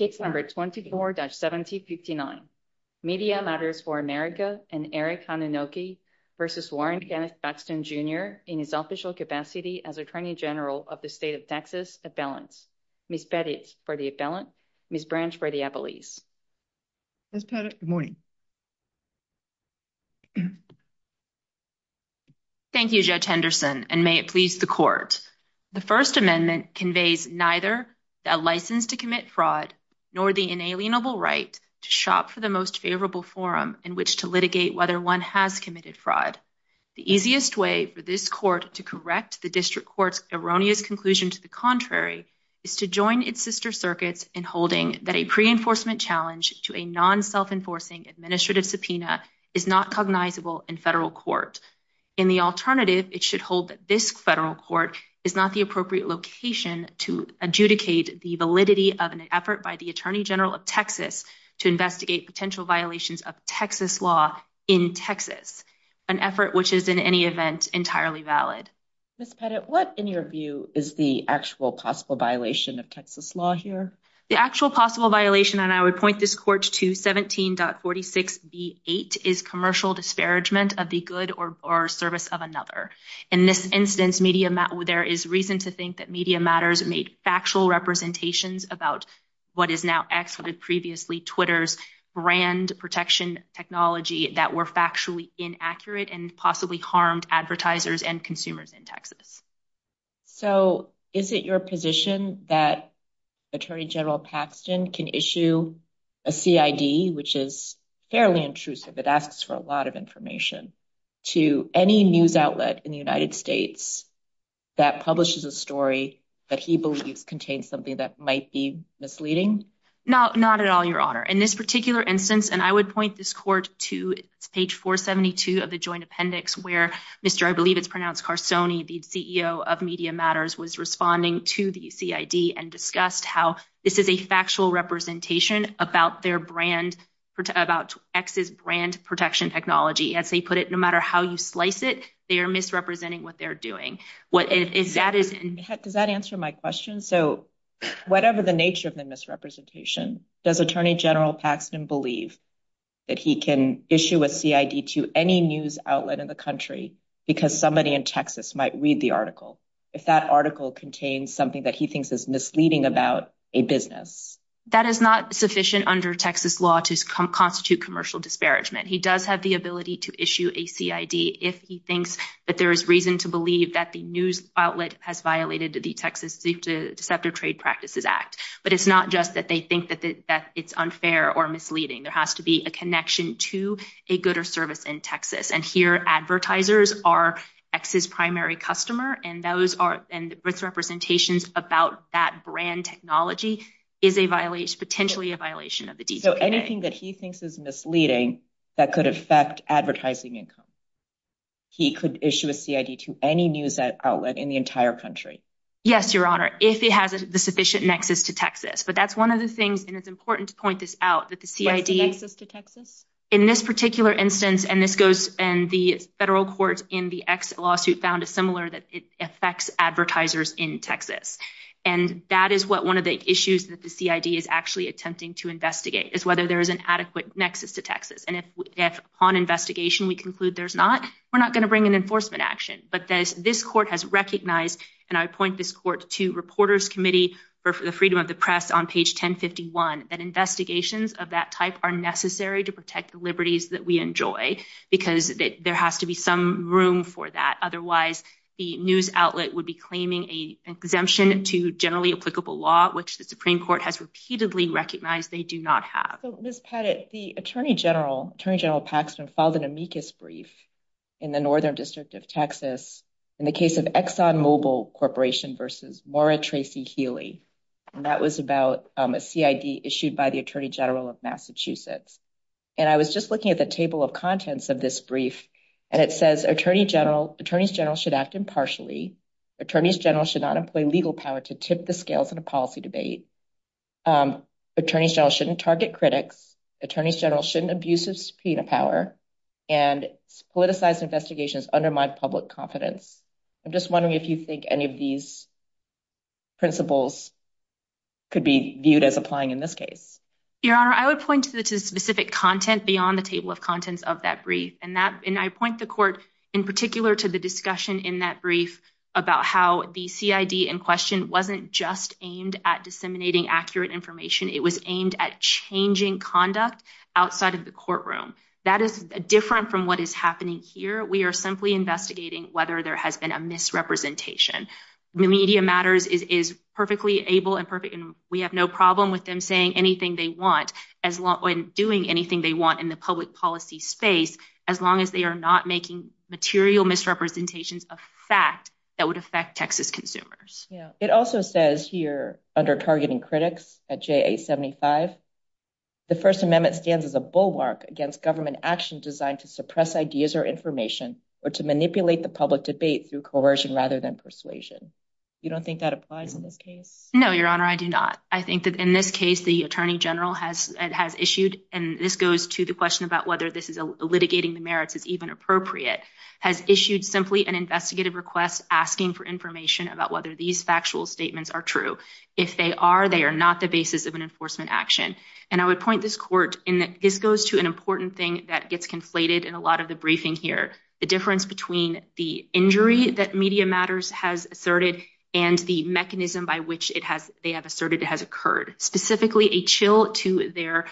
in his official capacity as Attorney General of the State of Texas Appellants, Ms. Pettit for the Appellant, Ms. Branch for the Appellees. Ms. Pettit, good morning. Thank you, Judge Henderson, and may it please the Court. The First Amendment conveys neither a license to commit fraud nor a license to commit fraud. nor the inalienable right to shop for the most favorable forum in which to litigate whether one has committed fraud. The easiest way for this Court to correct the District Court's erroneous conclusion to the contrary is to join its sister circuits in holding that a pre-enforcement challenge to a non-self-enforcing administrative subpoena is not cognizable in federal court. In the alternative, it should hold that this federal court is not the appropriate location to adjudicate the validity of an effort by the Attorney General of Texas to investigate potential violations of Texas law in Texas, an effort which is, in any event, entirely valid. Ms. Pettit, what, in your view, is the actual possible violation of Texas law here? The actual possible violation, and I would point this Court to 17.46b.8, is commercial disparagement of the good or service of another. In this instance, there is reason to think that Media Matters made factual representations about what is now excluded previously, Twitter's brand protection technology that were factually inaccurate and possibly harmed advertisers and consumers in Texas. So, is it your position that Attorney General Paxton can issue a CID, which is fairly intrusive, it asks for a lot of information, to any news outlet in the United States that publishes a story that he believes contains something that might be misleading? Not at all, Your Honor. In this particular instance, and I would point this Court to page 472 of the Joint Appendix, where Mr. I believe it's pronounced Carsoni, the CEO of Media Matters, was responding to the CID and discussed how this is a factual representation about their brand, about X's brand protection technology. As he put it, no matter how you slice it, they are misrepresenting what they're doing. Does that answer my question? So, whatever the nature of the misrepresentation, does Attorney General Paxton believe that he can issue a CID to any news outlet in the country because somebody in Texas might read the article, if that article contains something that he thinks is misleading about a business? That is not sufficient under Texas law to constitute commercial disparagement. He does have the ability to issue a CID if he thinks that there is reason to believe that the news outlet has violated the Texas Deceptive Trade Practices Act. But it's not just that they think that it's unfair or misleading. There has to be a connection to a good or service in Texas. And here, advertisers are X's primary customer, and those are, and misrepresentations about that brand technology is a violation, potentially a violation of the DCPA. So, anything that he thinks is misleading that could affect advertising income, he could issue a CID to any news outlet in the entire country? Yes, Your Honor, if it has the sufficient nexus to Texas. But that's one of the things, and it's important to point this out, that the CID... What's the nexus to Texas? In this particular instance, and this goes, and the federal court in the X lawsuit found a similar that affects advertisers in Texas. And that is what one of the issues that the CID is actually attempting to investigate, is whether there is an adequate nexus to Texas. And if, upon investigation, we conclude there's not, we're not going to bring an enforcement action. But this court has recognized, and I point this court to Reporters Committee for the Freedom of the Press on page 1051, that investigations of that type are necessary to protect the liberties that we enjoy, because there has to be some room for that. Otherwise, the news outlet would be claiming an exemption to generally applicable law, which the Supreme Court has repeatedly recognized they do not have. Ms. Pettit, the Attorney General, Attorney General Paxman, filed an amicus brief in the Northern District of Texas in the case of ExxonMobil Corporation versus Maura Tracy Healy. And that was about a CID issued by the Attorney General of Massachusetts. And I was just looking at the table of contents of this brief, and it says Attorney General, Attorneys General should act impartially. Attorneys General should not employ legal power to tip the scales in a policy debate. Attorneys General shouldn't target critics. Attorneys General shouldn't abuse of subpoena power. And politicized investigations undermine public confidence. I'm just wondering if you think any of these principles could be viewed as applying in this case. Your Honor, I would point to the specific content beyond the table of contents of that brief. And I point the Court in particular to the discussion in that brief about how the CID in question wasn't just aimed at disseminating accurate information. It was aimed at changing conduct outside of the courtroom. That is different from what is happening here. We are simply investigating whether there has been a misrepresentation. Media Matters is perfectly able and we have no problem with them saying anything they want and doing anything they want in the public policy space as long as they are not making material misrepresentations of fact that would affect Texas consumers. It also says here under targeting critics at JA 75, the First Amendment stands as a bulwark against government action designed to suppress ideas or information or to manipulate the public debate through coercion rather than persuasion. You don't think that applies in this case? No, Your Honor, I do not. I think that in this case, the Attorney General has issued and this goes to the question about whether litigating the merits is even appropriate, has issued simply an investigative request asking for information about whether these factual statements are true. If they are, they are not the basis of an enforcement action. And I would point this Court in that this goes to an important thing that gets conflated in a lot of the briefing here. The difference between the injury that Media Matters has asserted and the mechanism by which they have asserted it has occurred. Specifically, a chill to their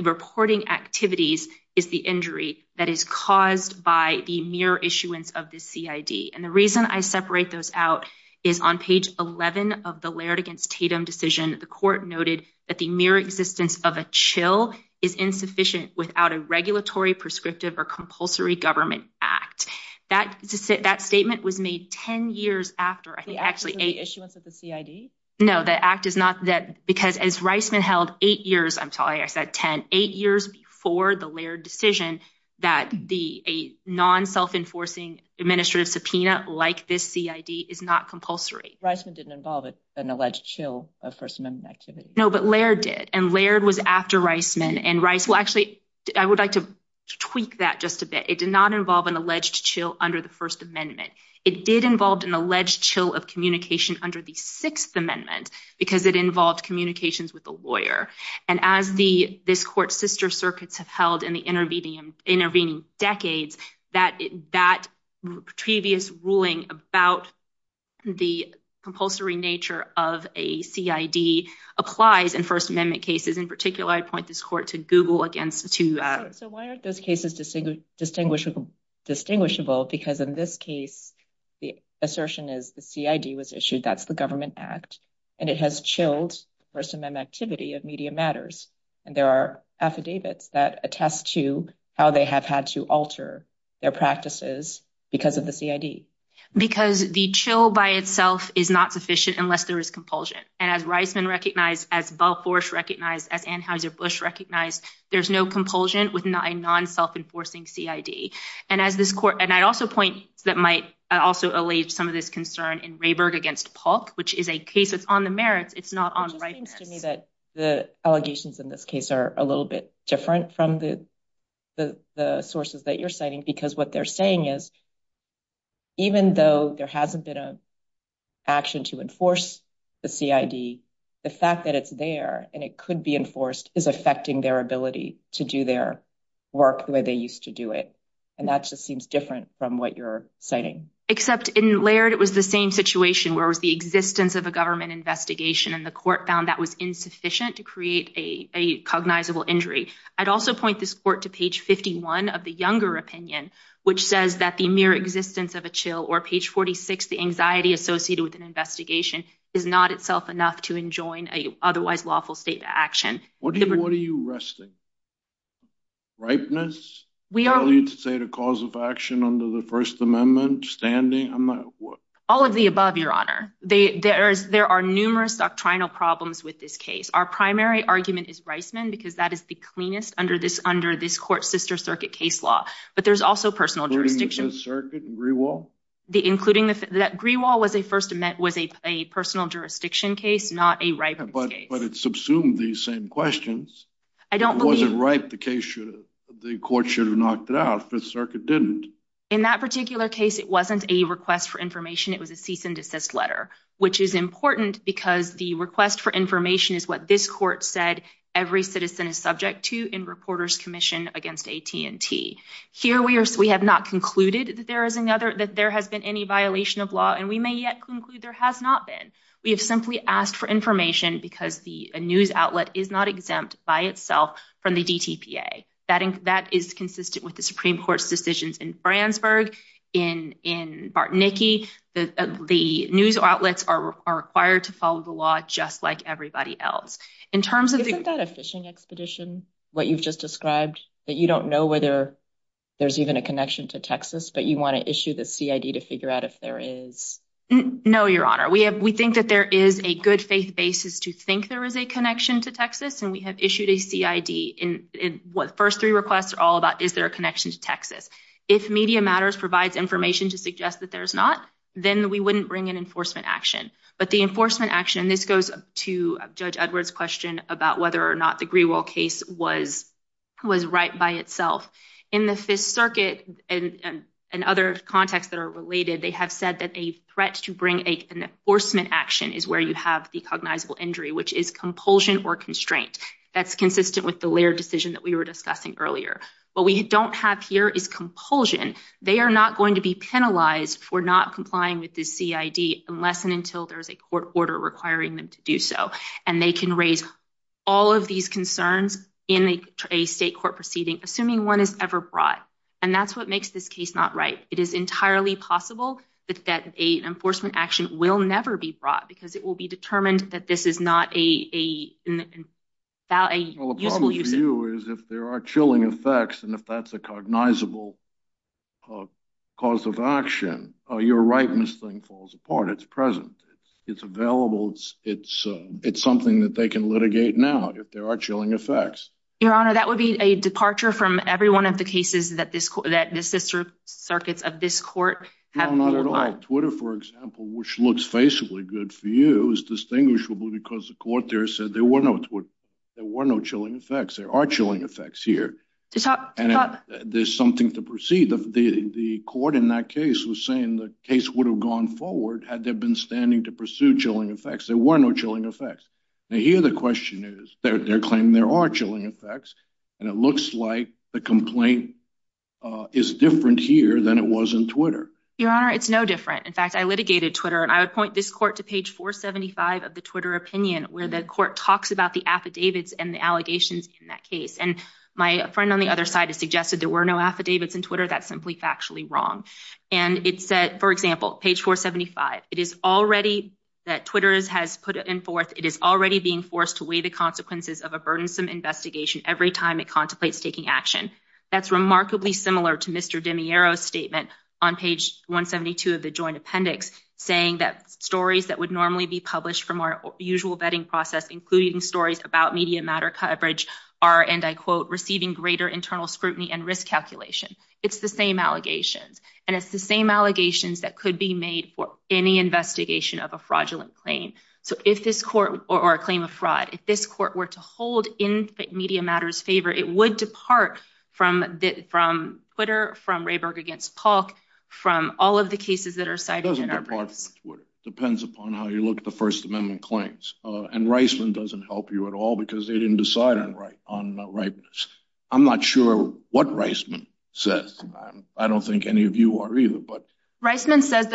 reporting activities is the injury that is caused by the mere issuance of the CID. And the reason I separate those out is on page 11 of the Laird v. Tatum decision, the Court noted that the mere existence of a chill is insufficient without a regulatory, prescriptive, or compulsory government act. That statement was made 10 years after. The act is not the issuance of the CID? No, because Reisman held 8 years, I'm sorry, I said 10, 8 years before the Laird decision that a non-self-enforcing administrative subpoena like this CID is not compulsory. Reisman didn't involve an alleged chill of First Amendment activity? No, but Laird did. And Laird was after Reisman. I would like to tweak that just a bit. It did not involve an alleged chill under the First Amendment. It did involve an alleged chill of communication under the Sixth Amendment because it involved communications with the lawyer. And as this Court's sister circuits have held in the intervening decades, that previous ruling about the compulsory nature of a CID applies in First Amendment cases. In particular, I point this Court to Google against... So why aren't those cases distinguishable? Because in this case, the assertion is the CID was issued, that's the government act. And it has chilled First Amendment activity of media matters. And there are affidavits that attest to how they have had to alter their practices because of the CID. Because the chill by itself is not sufficient unless there is compulsion. And as Reisman recognized, as Balfoursh recognized, as Anheuser-Busch recognized, there's no compulsion with a non-self-enforcing CID. And I'd also point that might also allay some of this concern in Rayberg against Polk, which is a case that's on the merits, it's not on rightness. It just seems to me that the allegations in this case are a little bit different from the sources that you're citing because what they're saying is, even though there hasn't been an action to enforce the CID, the fact that it's there and it could be enforced is affecting their ability to do their work the way they used to do it. And that just seems different from what you're citing. Except in Laird, it was the same situation, where it was the existence of a government investigation and the court found that was insufficient to create a cognizable injury. I'd also point this court to page 51 of the Younger opinion, which says that the mere existence of a chill, or page 46, the anxiety associated with an investigation, is not itself enough to enjoin an otherwise lawful state of action. What are you arresting? Ripeness? Do I need to state a cause of action under the First Amendment? All of the above, Your Honor. There are numerous doctrinal problems with this case. Our primary argument is Reisman because that is the cleanest under this court's sister circuit case law. But there's also personal jurisdiction. Including the sister circuit and Greewall? Greewall was a personal jurisdiction case, not a ripeness case. But it subsumed these same questions. I don't believe... that the court should have knocked it out if the circuit didn't. In that particular case, it wasn't a request for information. It was a cease and desist letter. Which is important because the request for information is what this court said every citizen is subject to in Reporters Commission against AT&T. Here, we have not concluded that there has been any violation of law. And we may yet conclude there has not been. We have simply asked for information because the news outlet is not exempt by itself from the DTP. That is consistent with the Supreme Court's decisions in Fransburg, in Bartnicki. The news outlets are required to follow the law just like everybody else. Isn't that a fishing expedition? What you've just described? That you don't know whether there's even a connection to Texas but you want to issue the CID to figure out if there is? No, Your Honor. We think that there is a good faith basis to think there is a connection to Texas. And we have issued a CID in what the first three requests are all about is there a connection to Texas. If Media Matters provides information to suggest that there is not, then we wouldn't bring an enforcement action. But the enforcement action, and this goes to Judge Edwards' question about whether or not the Greenwald case was right by itself. In the Fifth Circuit and other contexts that are related, they have said that a threat to bring an enforcement action is where you have the cognizable injury which is compulsion or constraint. That's consistent with the Laird decision that we were discussing earlier. What we don't have here is compulsion. They are not going to be penalized for not complying with this CID unless and until there is a court order requiring them to do so. And they can raise all of these concerns in a state court proceeding assuming one is ever brought. And that's what makes this case not right. It is entirely possible that an enforcement action will never be brought because it will be determined without a useful use. Well, the problem for you is if there are chilling effects and if that's a cognizable cause of action, your rightness thing falls apart. It's present. It's available. It's something that they can litigate now if there are chilling effects. Your Honor, that would be a departure from every one of the cases that the sister circuits of this court have brought. No, not at all. Twitter, for example, which looks faceably good for you, is distinguishable because the court there said there were no chilling effects. There are chilling effects here. There's something to proceed. The court in that case was saying the case would have gone forward had they been standing to pursue chilling effects. There were no chilling effects. Now, here the question is they're claiming there are chilling effects and it looks like the complaint is different here than it was on Twitter. Your Honor, it's no different. It's different than it was on Twitter. And I would point this court to page 475 of the Twitter opinion where the court talks about the affidavits and the allegations in that case. And my friend on the other side has suggested there were no affidavits in Twitter. That's simply factually wrong. And it said, for example, page 475, it is already that Twitter has put it in fourth. It is already being forced to weigh the consequences of a burdensome investigation every time it contemplates taking action. That's remarkably similar to Mr. DeMiero's statement on page 172 of the joint appendix saying that stories that would normally be published from our usual vetting process including stories about media matter coverage are, and I quote, receiving greater internal scrutiny and risk calculation. It's the same allegations and it's the same allegations that could be made for any investigation of a fraudulent claim. So if this court or a claim of fraud, if this court were to hold in media matters favor, it would depart from Twitter, from Rayburg against Polk, from all of the cases that are cited in our briefs. It doesn't depart from Twitter. It depends upon how you look at the First Amendment claims. And Reisman doesn't help you at all because they didn't decide on rightness. I'm not sure what Reisman says. I don't think any of you are either. Reisman says that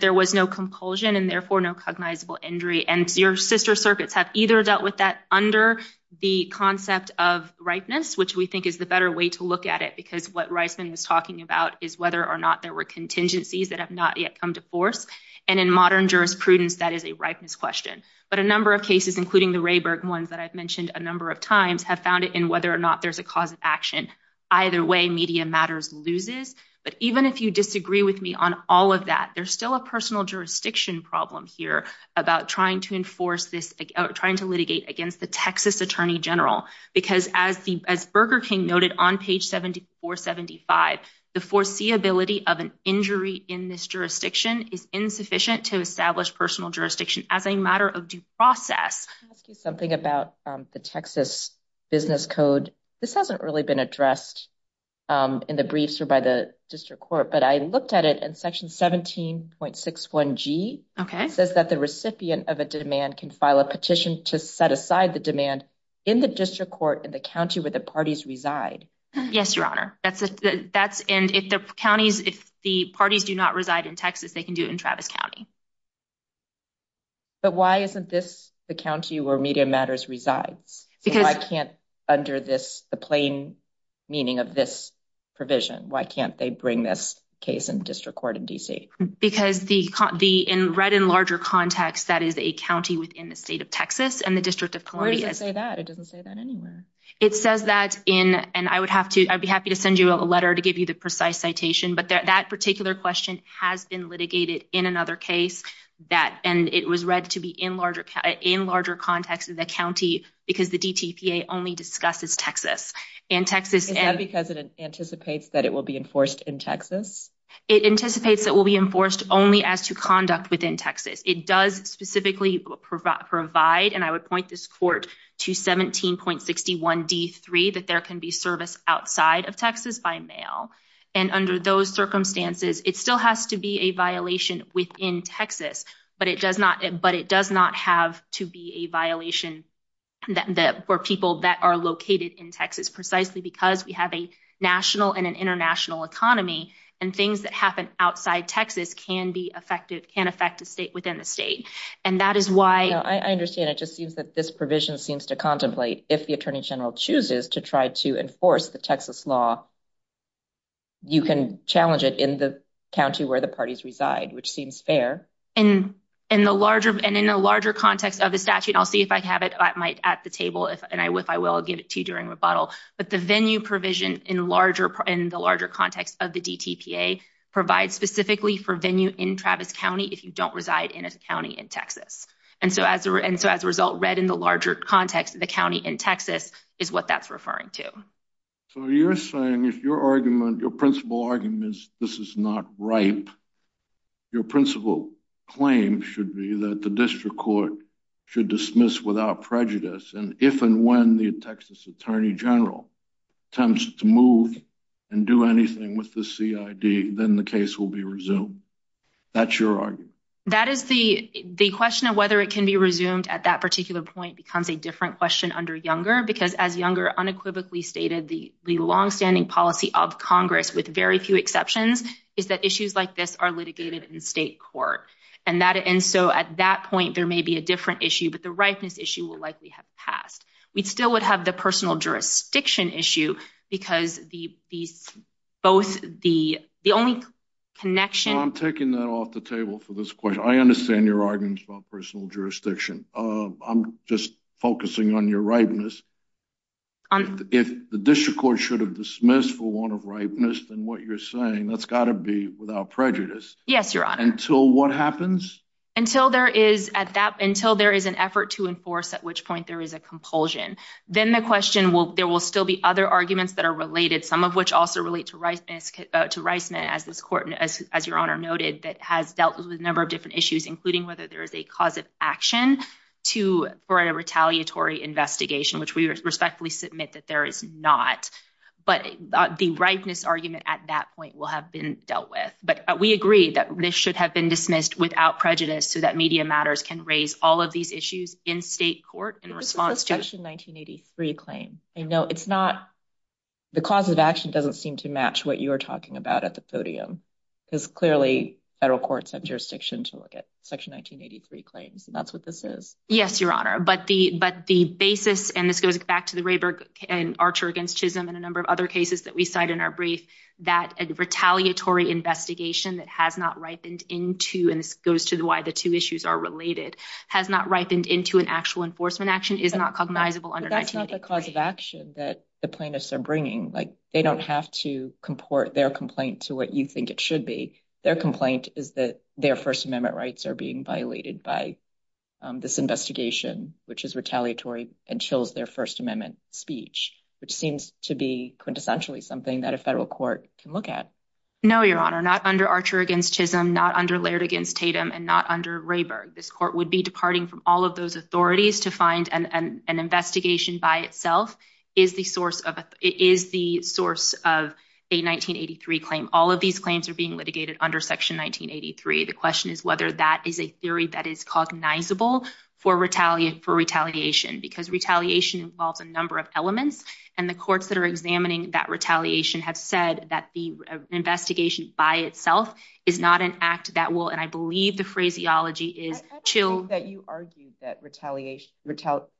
there was no compulsion and therefore no cognizable injury. And your sister circuits have either dealt with that under the concept of rightness, which we think is the better way to look at it because what Reisman was talking about is whether or not there were contingencies that have not yet come to force. And in modern jurisprudence, that is a rightness question. But a number of cases, including the Rayburg ones that I've mentioned a number of times have found it in whether or not there's a cause of action. Either way, media matters loses. But even if you disagree with me on all of that, there's still a personal jurisdiction problem here about trying to enforce this, trying to litigate against the Texas Attorney General because as Burger King noted on page 7475, the foreseeability of an injury in this jurisdiction is insufficient to establish personal jurisdiction as a matter of due process. Let me ask you something about the Texas business code. This hasn't really been addressed in the briefs or by the district court, but I looked at it and section 17.61G says that the recipient of a demand can file a petition to set aside the demand in the district court in the county where the parties reside. Yes, Your Honor. And if the parties do not reside in Texas, they can do it in Travis County. But why isn't this the county where media matters resides? Because I can't under this the plain meaning of this provision. Why can't they bring this case in district court in D.C.? Because the in read in larger context, that is a county within the state of Texas and the district of Columbia. It doesn't say that anywhere. It says that in and I would have to, I'd be happy to send you a letter to give you the precise citation. But that particular question has been litigated in another case that and it was read to be in larger context in the county because the D.T.P.A. only discusses Texas and Texas. Is that because it anticipates that it will be enforced in Texas? It anticipates that will be enforced only as to conduct within Texas. It does specifically provide and I would point this court to 17.61D3 that there can be service outside of Texas by mail. And under those circumstances, it still has to be a violation within Texas. But it does not. But it does not have to be a violation that were people that are located in Texas precisely because we have a national and an international economy and things that happen outside Texas can be effective, can affect a state within the state. And that is why I understand. It just seems that this provision seems to contemplate if the attorney general chooses to try to enforce the Texas law. You can challenge it in the county where the parties reside, which seems fair. And in the larger and in a larger context of the statute, I'll see if I have it at the table and if I will, I'll give it to you during rebuttal. But the venue provision in the larger context of the D.T.P.A. provides specifically for venue in Travis County if you don't reside in a county in Texas. And so as a result, red in the larger context of the county in Texas is what that's referring to. So you're saying if your argument, your principal argument is this is not ripe, your principal claim should be that the district court should dismiss without prejudice and if and when the Texas attorney general attempts to move and do anything with the C.I.D., then the case will be resumed. That's your argument? That is the question of whether it can be resumed at that particular point becomes a different question under Younger because as Younger unequivocally stated, the longstanding policy of Congress with very few exceptions is that issues like this are litigated in state court. And so at that point there may be a different issue but the ripeness issue will likely have passed. We still would have the personal jurisdiction issue because both the only connection I'm taking that off the table for this question. I understand your arguments about personal jurisdiction. I'm just focusing on your ripeness. If the district court should have dismissed for one of ripeness then what you're saying that's got to be without prejudice. Yes, your honor. Until what happens? Until there is an effort to enforce at which point there is a compulsion. Then the question there will still be other arguments that are related some of which also relate to Reisman as your honor noted that has dealt with a number of different issues including whether there is a cause of action for a retaliatory investigation which we respectfully submit that there is not. But the ripeness argument at that point will have been dealt with. But we agree that this should have been dismissed without prejudice so that media matters can raise all of these issues in state court in response to. This is a section 1983 claim. I know it's not the cause of action doesn't seem to match what you're talking about at the podium because clearly federal courts have jurisdiction to look at section 1983 claims. That's what this is. Yes your honor. But the basis and this goes back to the Rayburg and Archer against Chisholm and a number of other cases that we cite in our brief that a retaliatory investigation that has not ripened into and this goes to why the two issues are related has not ripened into an actual enforcement action is not cognizable under 1983. But that's not the cause of action that the plaintiffs are bringing. They don't have to comport their complaint to what you think it should be. Their complaint is that their First Amendment rights are being violated by this investigation which is retaliatory and chills their First Amendment speech which seems to be quintessentially something that a federal court can look at. No your honor. Not under Archer against Chisholm not under Laird against Tatum and not under Rayburg. This court would be departing from all of those authorities to find an investigation by itself is the source of is the source of a 1983 claim. All of these claims are being litigated under section 1983. The question is whether that is a theory that is cognizable for retaliation for retaliation because retaliation involves a number of elements and the courts that are examining that retaliation have said that the investigation by itself is not an act that will and I believe the phraseology is chills that you argued that retaliation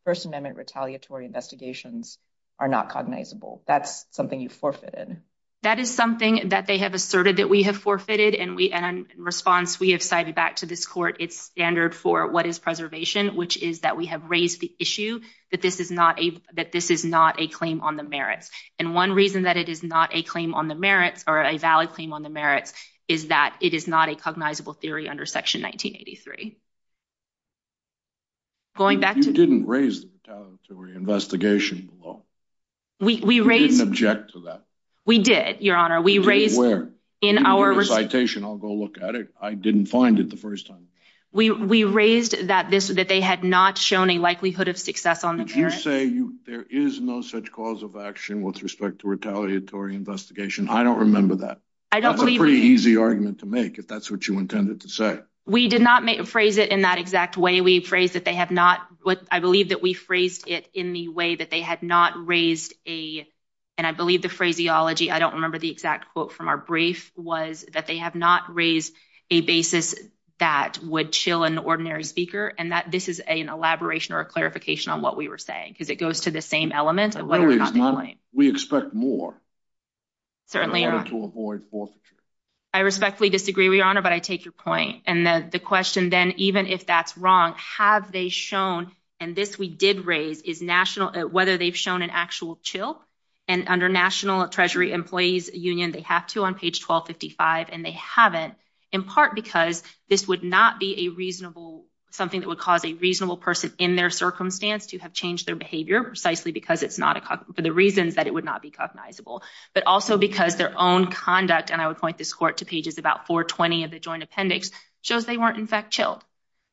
First Amendment retaliatory investigations are not cognizable. That's something you forfeited. That is something that they have asserted that we have forfeited and in response we have cited back to this court its standard for what is preservation which is that we have raised the issue that this is not a that this is not a claim on the merits and one reason that it is not a claim on the merits or a valid claim on the merits is that it is not a cognizable theory under section 1983. Going back to You didn't raise the retaliatory investigation below. We raised You didn't object to that. We did, Your Honor. We raised Where? In our I'll go look at it. I didn't find it the first time. We raised that they had not shown a likelihood of success on the merits. Did you say there is no such cause of action with respect to retaliatory investigation? I don't remember that. I don't believe That's a pretty easy argument to make if that's what you intended to say. We did not phrase it in that exact way. We phrased that they have not I believe that we phrased it in the way that they had not raised a and I believe the phraseology I don't remember the exact quote from our brief was that they have not raised a basis that would chill an ordinary speaker and that this is an elaboration or a clarification on what we were saying because it goes to the same element of what we're not doing. We expect more. Certainly, Your Honor. In order to avoid forfeiture. I respectfully disagree, Your Honor, but I take your point and the question then even if that's wrong have they shown and this we did raise is national whether they've shown an actual chill and under national treasury employees union they have to on page 1255 and they haven't in part because this would not be a reasonable something that would cause a reasonable person in their circumstance to have changed their behavior precisely because it's not for the reasons that it would not be cognizable but also because their own conduct and I would point this court to pages about 420 of the joint appendix shows they weren't in fact chilled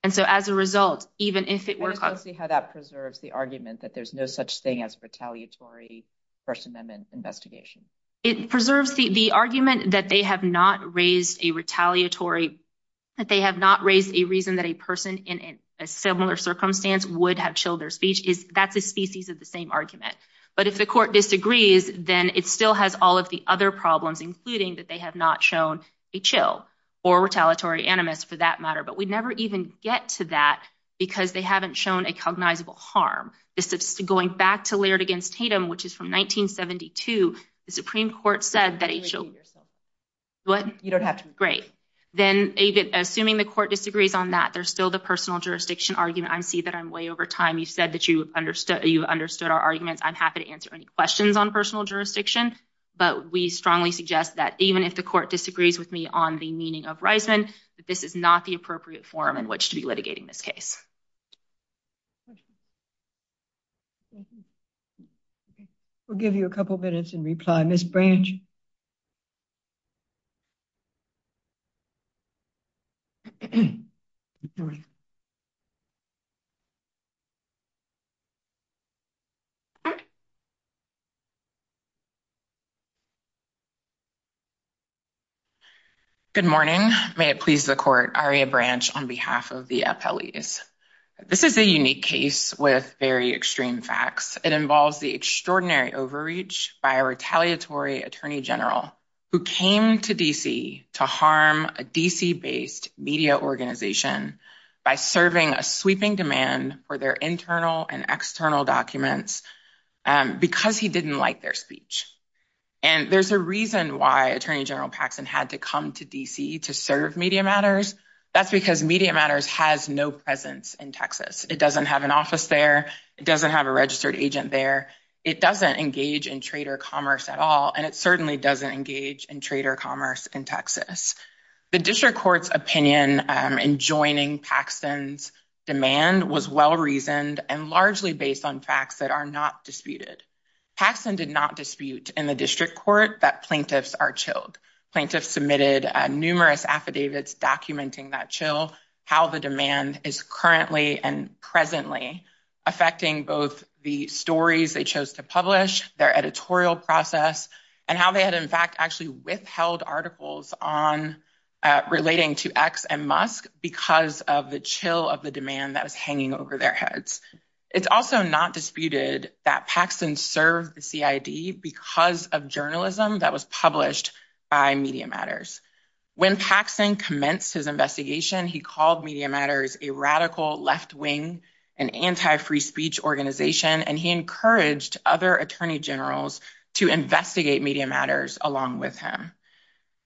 and so as a result even if it were how that preserves the argument that there's no such thing as retaliatory First Amendment investigation? It preserves the argument that they have not raised a retaliatory that they have not raised a reason that a person in a similar circumstance would have chilled their speech that's a species of the same argument but if the court disagrees then it still has all of the other problems including that they have not shown a chill or retaliatory animus for that matter but we never even get to that because they haven't shown a cognizable harm this is going back to Laird against Tatum which is from 1972 the Supreme Court said that a chill what? You don't have to Great then assuming the court disagrees on that there's still the personal jurisdiction argument I see that I'm way over time you said that you understood our arguments I'm happy to answer any questions on personal jurisdiction but we strongly suggest that even if the court disagrees with me on the meaning of Reisman that this is not the appropriate form in which to be litigating this case Thank you We'll give you a couple minutes in reply Ms. Branch Good morning May it please the court Aria Branch on behalf of the appellees This is a unique case with very extreme facts It involves the extraordinary overreach by a retaliatory Attorney General who came to D.C. to harm a D.C. based media organization by serving a sweeping demand for their internal and external documents because he didn't like their speech and there's a reason why Attorney General Paxson had to come to D.C. to serve Media Matters that's because Media Matters has no presence in Texas It doesn't have an office there It doesn't have a registered agent there It doesn't engage in trader commerce at all and it certainly doesn't engage in trader commerce in Texas The District Court's in joining Paxson's demand was well reasoned and largely based on facts that are not disputed Paxson did not dispute in the District Court that plaintiffs are chilled Plaintiffs submitted numerous affidavits documenting that chill how the demand is currently and presently affecting both the stories they chose to publish their editorial process and how they had in fact actually withheld articles on relating to X and Musk because of the chill of the demand that was hanging over their heads It's also not disputed that Paxson served the CID because of journalism that was published by Media Matters When Paxson commenced his investigation he called Media Matters a radical left wing anti-free speech organization and he encouraged other attorney generals to investigate Media Matters along with him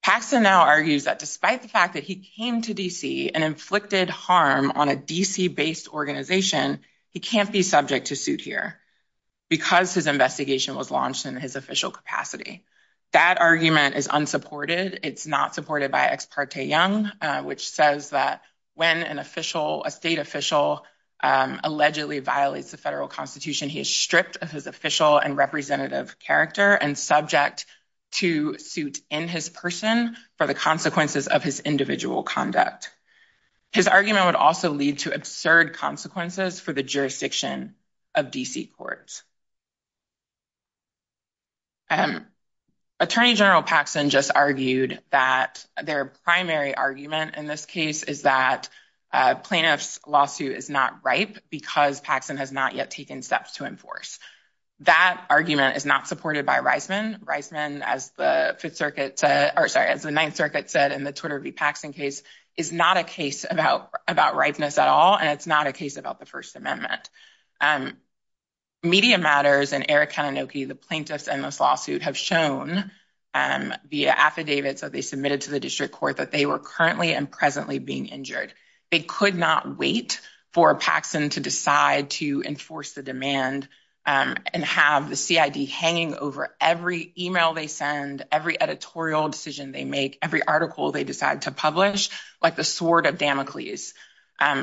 Paxson now argues that despite the fact that he came to D.C. and inflicted harm on a D.C. based organization he can't be subject to suit here because his investigation was launched in his official capacity That argument is unsupported It's not supported by Ex parte Young which says that when an official a state official allegedly violates the federal constitution he is stripped of his official and representative character and subject to suit in his person for the consequences of his individual conduct His argument would also lead to absurd consequences for the jurisdiction of D.C. courts Attorney General Paxson just argued that their primary argument in this case is that plaintiff's lawsuit is not ripe because Paxson has not yet taken steps to enforce That argument is not supported by Reisman Reisman as the 9th circuit said in the Twitter v. Paxson case is not a case about ripeness at all and it's not a case about the first amendment Media Matters and Eric Kanunoke the plaintiff's and Reisman's lawsuit have shown via affidavits that they submitted to the district court that they were currently and presently being injured They could not wait for Paxson to decide to enforce the demand and have the CID hanging over every email they send every editorial decision they make every article they decide to publish like the sword of Damocles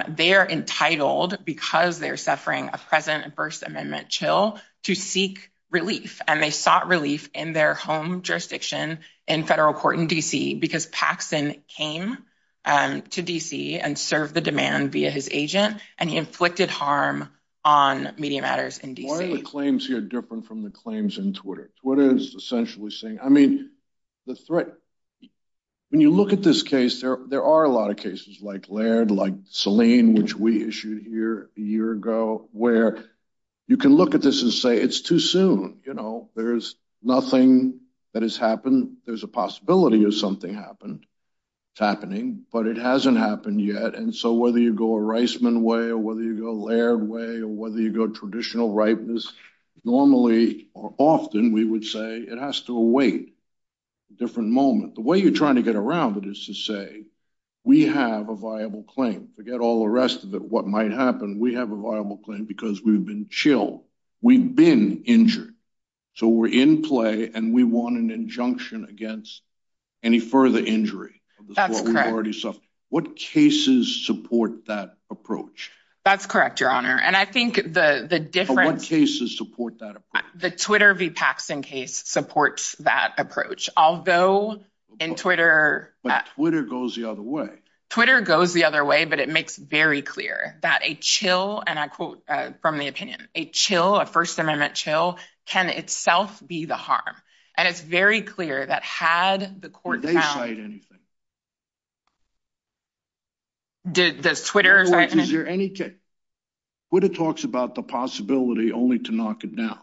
They are entitled because they are not relieved in their home jurisdiction in federal court in D.C. because Paxson came to D.C. and served the demand via his agent and he inflicted harm on Media Matters in D.C. Why are the claims here different from the claims in Twitter? Twitter is essentially saying I mean the threat when you look at this case there are a lot of cases like Laird like Selene which we issued here a year ago where you can look at this and say it's too soon you know there's nothing that has happened there's a possibility of something happening but it hasn't happened yet and so whether you go a Reisman way or whether you go a Laird way or whether you go traditional rightness normally or often we would say it has to await a different moment the way you're trying to get around it is to say we have a viable claim forget all the rest of it what might happen we have a viable claim because we've been chilled we've been injured so we're in play and we want an injunction against any further injury that's correct what cases support that approach that's correct your honor and i think the the different cases support that the twitter v paxton case supports that approach although in twitter but twitter goes the other way twitter goes the other way but it makes very clear that a chill and i quote from the opinion a chill a first amendment chill can itself be the harm and it's very clear that had the court found twitter talks about the possibility only to knock it down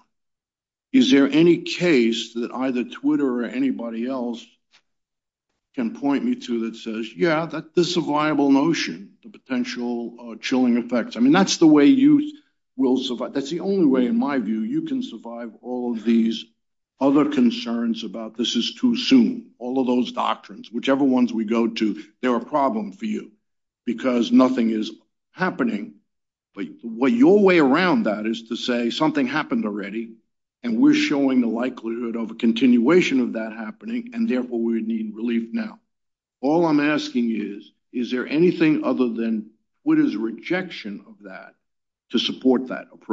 is there any case that either twitter or anybody else can point me to that says yeah that the survival notion the potential chilling effects that's the only way in my view you can survive all of these other concerns about this is too soon all of those doctrines whichever ones we go to they're a problem for you because nothing is happening but what your way around that is to say something happened already and we're showing the likelihood of a continuation of that happening and therefore we need relief now all i'm asking is is there anything other than what is rejection of that to support that that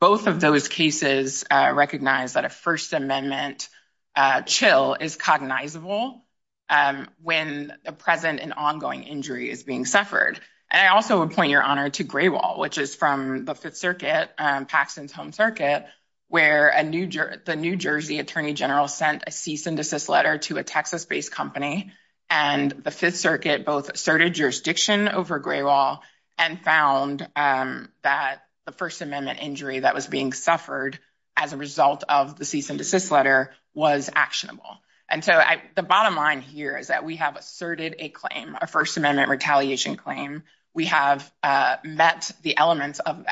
both of cases recognize that a first amendment chill is cognizable when a present and ongoing injury is being suffered and I also would point your honor to gray wall which is from the 5th circuit where the New Jersey attorney general sent a cease and desist letter and the 5th asserted jurisdiction and found that the first amendment injury that was being suffered was actionable and so the bottom line here is that we have asserted a claim we have met the elements of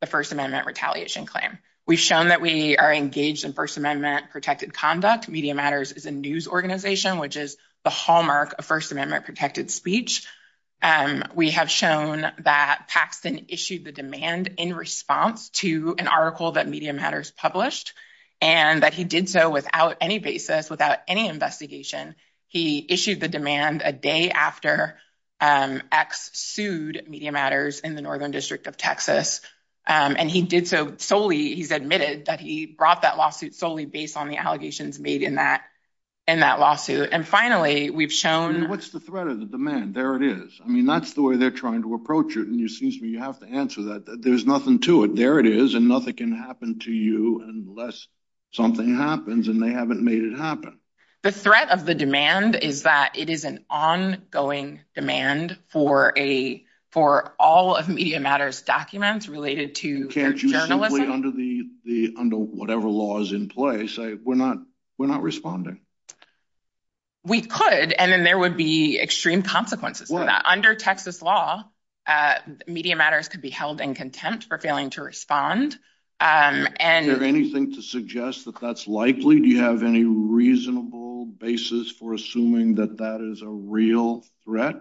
the first amendment retaliation claim we have shown that we are engaged in first amendment protected conduct media matters is a news organization which is the hall mark of speech we have shown that Paxton issued the demand in response to an article that media matters published and that he did so without any basis without any investigation he issued the demand a day after X sued media matters in the district of and he did so solely he's admitted that he brought that lawsuit solely based on the allegations made in that lawsuit and finally we've shown what's the threat of the demand there it is that's the way they're trying to approach it there's nothing to it there it is and nothing can happen to you unless something happens and they haven't made it happen the threat of the demand is that it is an ongoing demand for a for all of media matters documents related to journalism under the under whatever laws in place we're not we're not responding we could and then there would be extreme consequences for that under texas law media matters could be held in for failing to respond and anything to suggest that that's likely do you have any reasonable basis for assuming that that is a real threat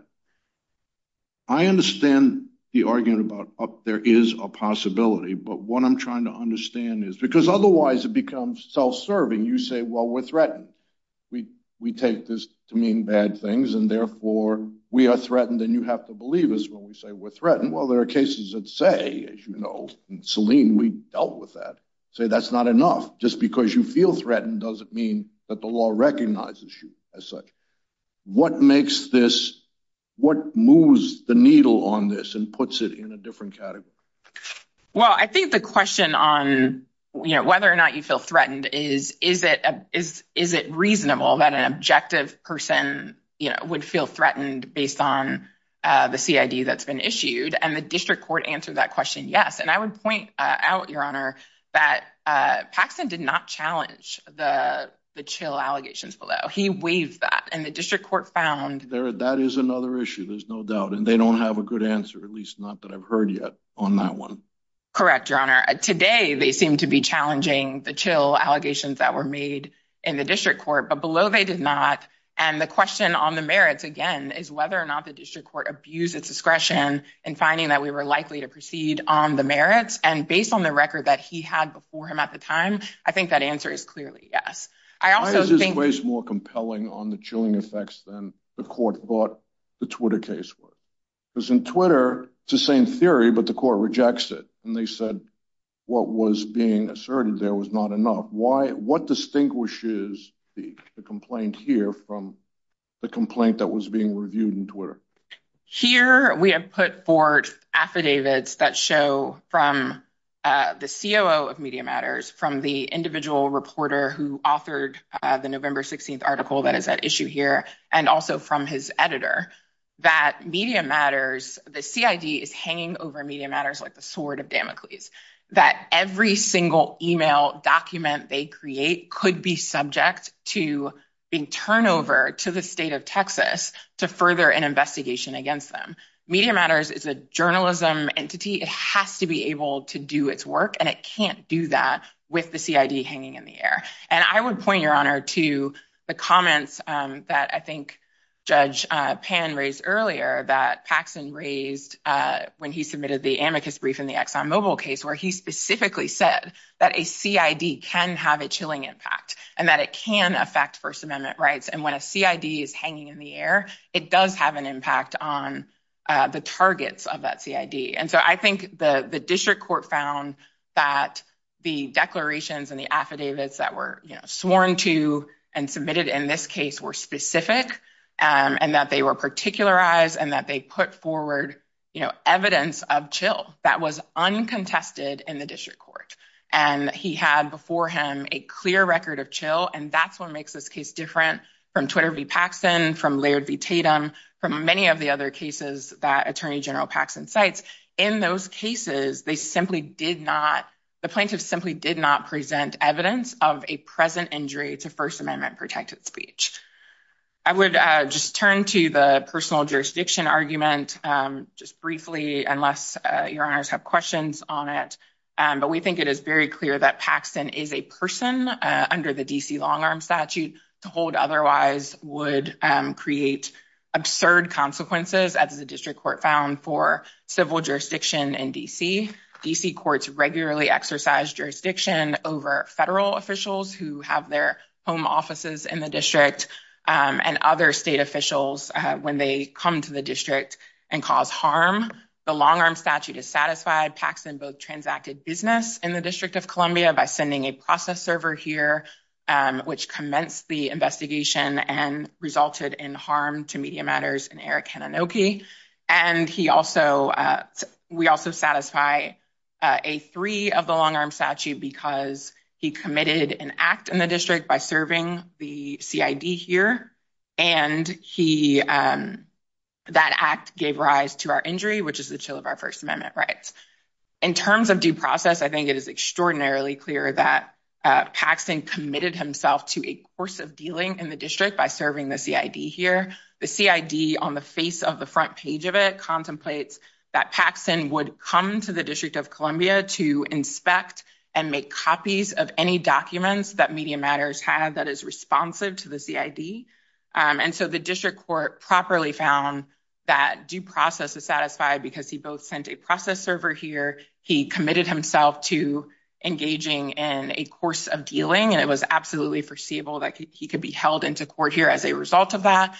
i understand the argument about up there is a possibility but what i'm trying to understand is because otherwise it becomes self-serving you say well we're threatened we we take this to mean bad things and therefore we are threatened and you have to believe us when we say we're threatened well there are cases that say as you know selene we dealt with that say that's not enough just because you feel threatened doesn't mean that the law recognizes you as such what makes this what moves the needle on this and puts it in a different category well i think the question on you know whether or not you feel threatened is is it is is it reasonable that an objective person you know would feel threatened based on uh the cid that's been issued and the district court answered that yes correct your honor today they seem to be challenging the chill allegations that were made in the district court but below they did not and the question on the merits again is whether or not the district court abused its discretion and finding that we were likely to proceed on the merits and based on the record that he had before him at the time i think that answer is clearly yes why is this case more compelling on the chilling effects than the court thought the twitter case was because in twitter it's the same theory but the court rejects it and they said what was being asserted there was not enough what distinguishes the complaint here from the complaint that was being reviewed in twitter here we have put forth affidavits that show from the coo of media matters from the individual reporter who authored the november 16th article that is at issue here and also from his editor that media matters the CID is hanging over media matters like the sword of Damocles that every single email document they create could be subject to being turnover to the state of texas to further an investigation against them media matters is a journalism entity it has to be able to do its work and it can't do that with the CID hanging in the air and i would point your honor to the comments that i think judge pan raised earlier that paxton raised when he submitted the amicus brief in the exxon mobile case where he specifically said that a CID can have a chilling impact and that it can affect first amendment rights and when a CID is hanging in the air it does have an impact on the targets of that CID and so i think the the district court found that the plaintiffs that they were particular ized and that they put forward evidence of chill that was uncontested in the district court and he had before him a clear record of chill and that's what makes this case different from twitter v paxton's case. In those cases they simply did not, the plaintiffs simply did not present evidence of a present injury to first amendment protected speech. I would just turn to the personal jurisdiction argument just briefly unless your honors have questions on it but we think it is very clear that paxton is a person under the D.C. jurisdiction. The D.C. courts exercise jurisdiction over federal officials who have their home offices in the district and other state officials when they come to the district and cause harm. The long arm statute is satisfied. transacted business by sending a process server here which commenced the investigation and resulted in harm to media matters. We also satisfy a three of the long arm statute because he committed an act in the district by serving the CID here and he that act gave rise to our injury which is the chill of our first amendment rights. It is extraordinarily clear that paxton committed himself to a course of dealing in the district by serving the CID here. The CID contemplates that paxton would come to the district of Columbia to inspect and make copies of any documents that media matters had that is responsive to the CID. The district court found that due process is satisfied because he committed himself to engaging in a course of dealing and it was absolutely foreseeable that he could be held into court as a result of that.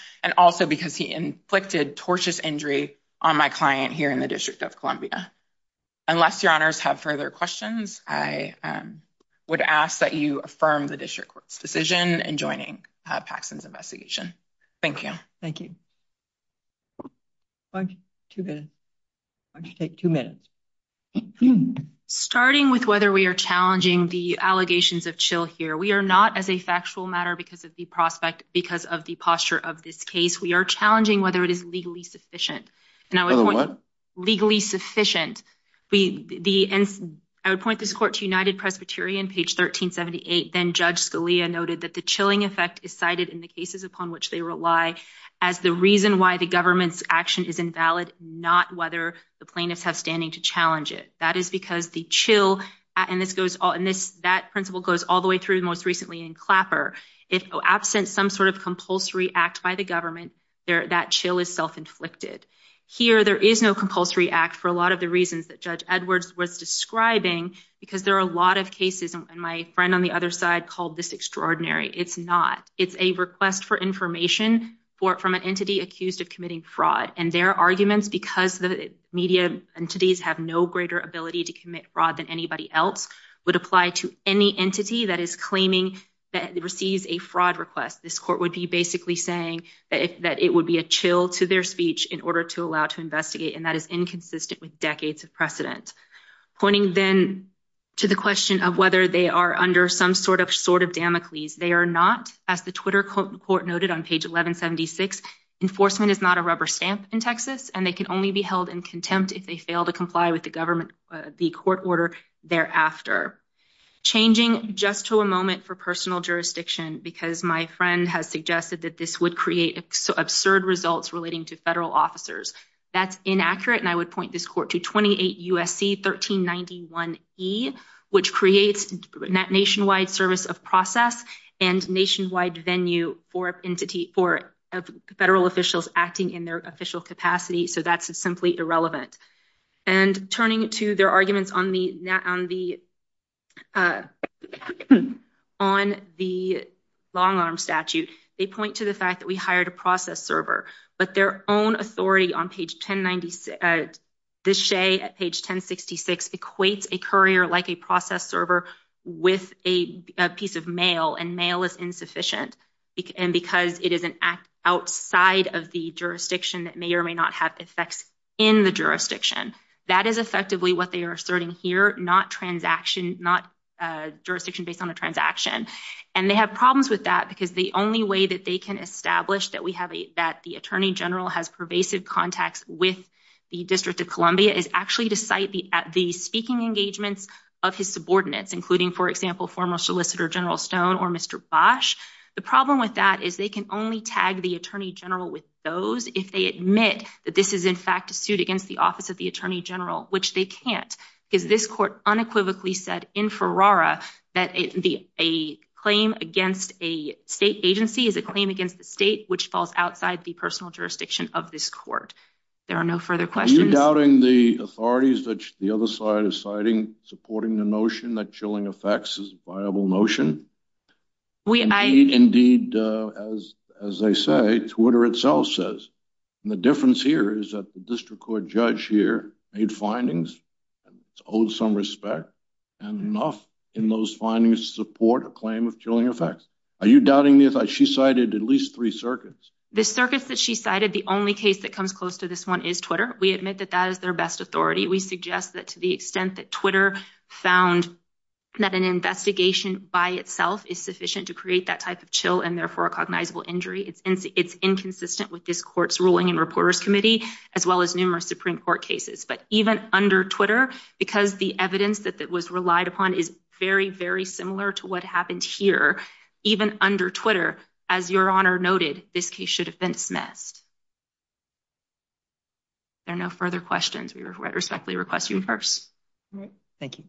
Unless your honors have further questions, I would ask that you affirm the district court's decision in joining paxton's investigation. Thank you. Thank you. Two minutes. Why don't you take two minutes? Starting with whether we are challenging the allegations of chill here. We are not as a factual matter because of the posture of this case. We are challenging whether it is legally sufficient. I would point this court to united Presbyterian courts. The chilling effect is cited as the reason why the government's action is invalid, not whether the plaintiffs have standing to challenge it. That principle goes all the way through most recently in clapper. absent some compulsory act by the government, that is self inflicted. There is no compulsory act for a lot of the reasons that judge Edwards was describing. It is a request for information from an accused of committing fraud. Their arguments because the media entities have no ability to commit fraud would apply to any entity that receives a fraud request. This court would be basically saying that it would be a chill to their speech in order to allow to investigate. That is inconsistent with decades of Pointing to the question of whether they are under some sort of Damocles, they are not. Enforcement is not a rubber stamp in Texas. They can only be held in contempt if they are that this would create absurd results relating to federal officers. That is inaccurate. I would point this court to 28 USC 1391E which creates nationwide service of process and nationwide venue for federal officials acting in their official capacity. That is simply irrelevant. Turning to their arguments on the long-arm statute, they point to the fact that we hired a process server. Their own authority at page 1066 equates a like a process server with a piece of mail. Mail is insufficient because it is outside of the jurisdiction that may or may not have effects in the jurisdiction. That is effectively what they are asserting here, jurisdiction based on a transaction. They have problems with that because the only way they can establish that the attorney general has pervasive contacts with the District of Columbia is to cite the speaking engagements of his subordinates. The problem with that is they can only tag the attorney general with those if they admit this is a suit against the office of general, which they can't. This court unequivocally said in its jurisdiction of this court. There are no further questions. doubting the authorities supporting the notion that effects is a viable notion? Indeed, as they say, Twitter itself says, difference here is that the court judge year made findings and enough in those findings to support a claim of effects. Are you doubting the The circuits that she cited, the only case that comes close to this one is Twitter. We suggest that to the extent that found that an investigation by itself is sufficient to create that type of chill and therefore cognizable injury, it's inconsistent with this court's ruling. Even under Twitter, because the evidence that was relied upon is very similar to what happened here, even under Twitter, as your honor noted, this case should have been dismissed. There are no further questions. We respectfully request you rehearse. Thank you.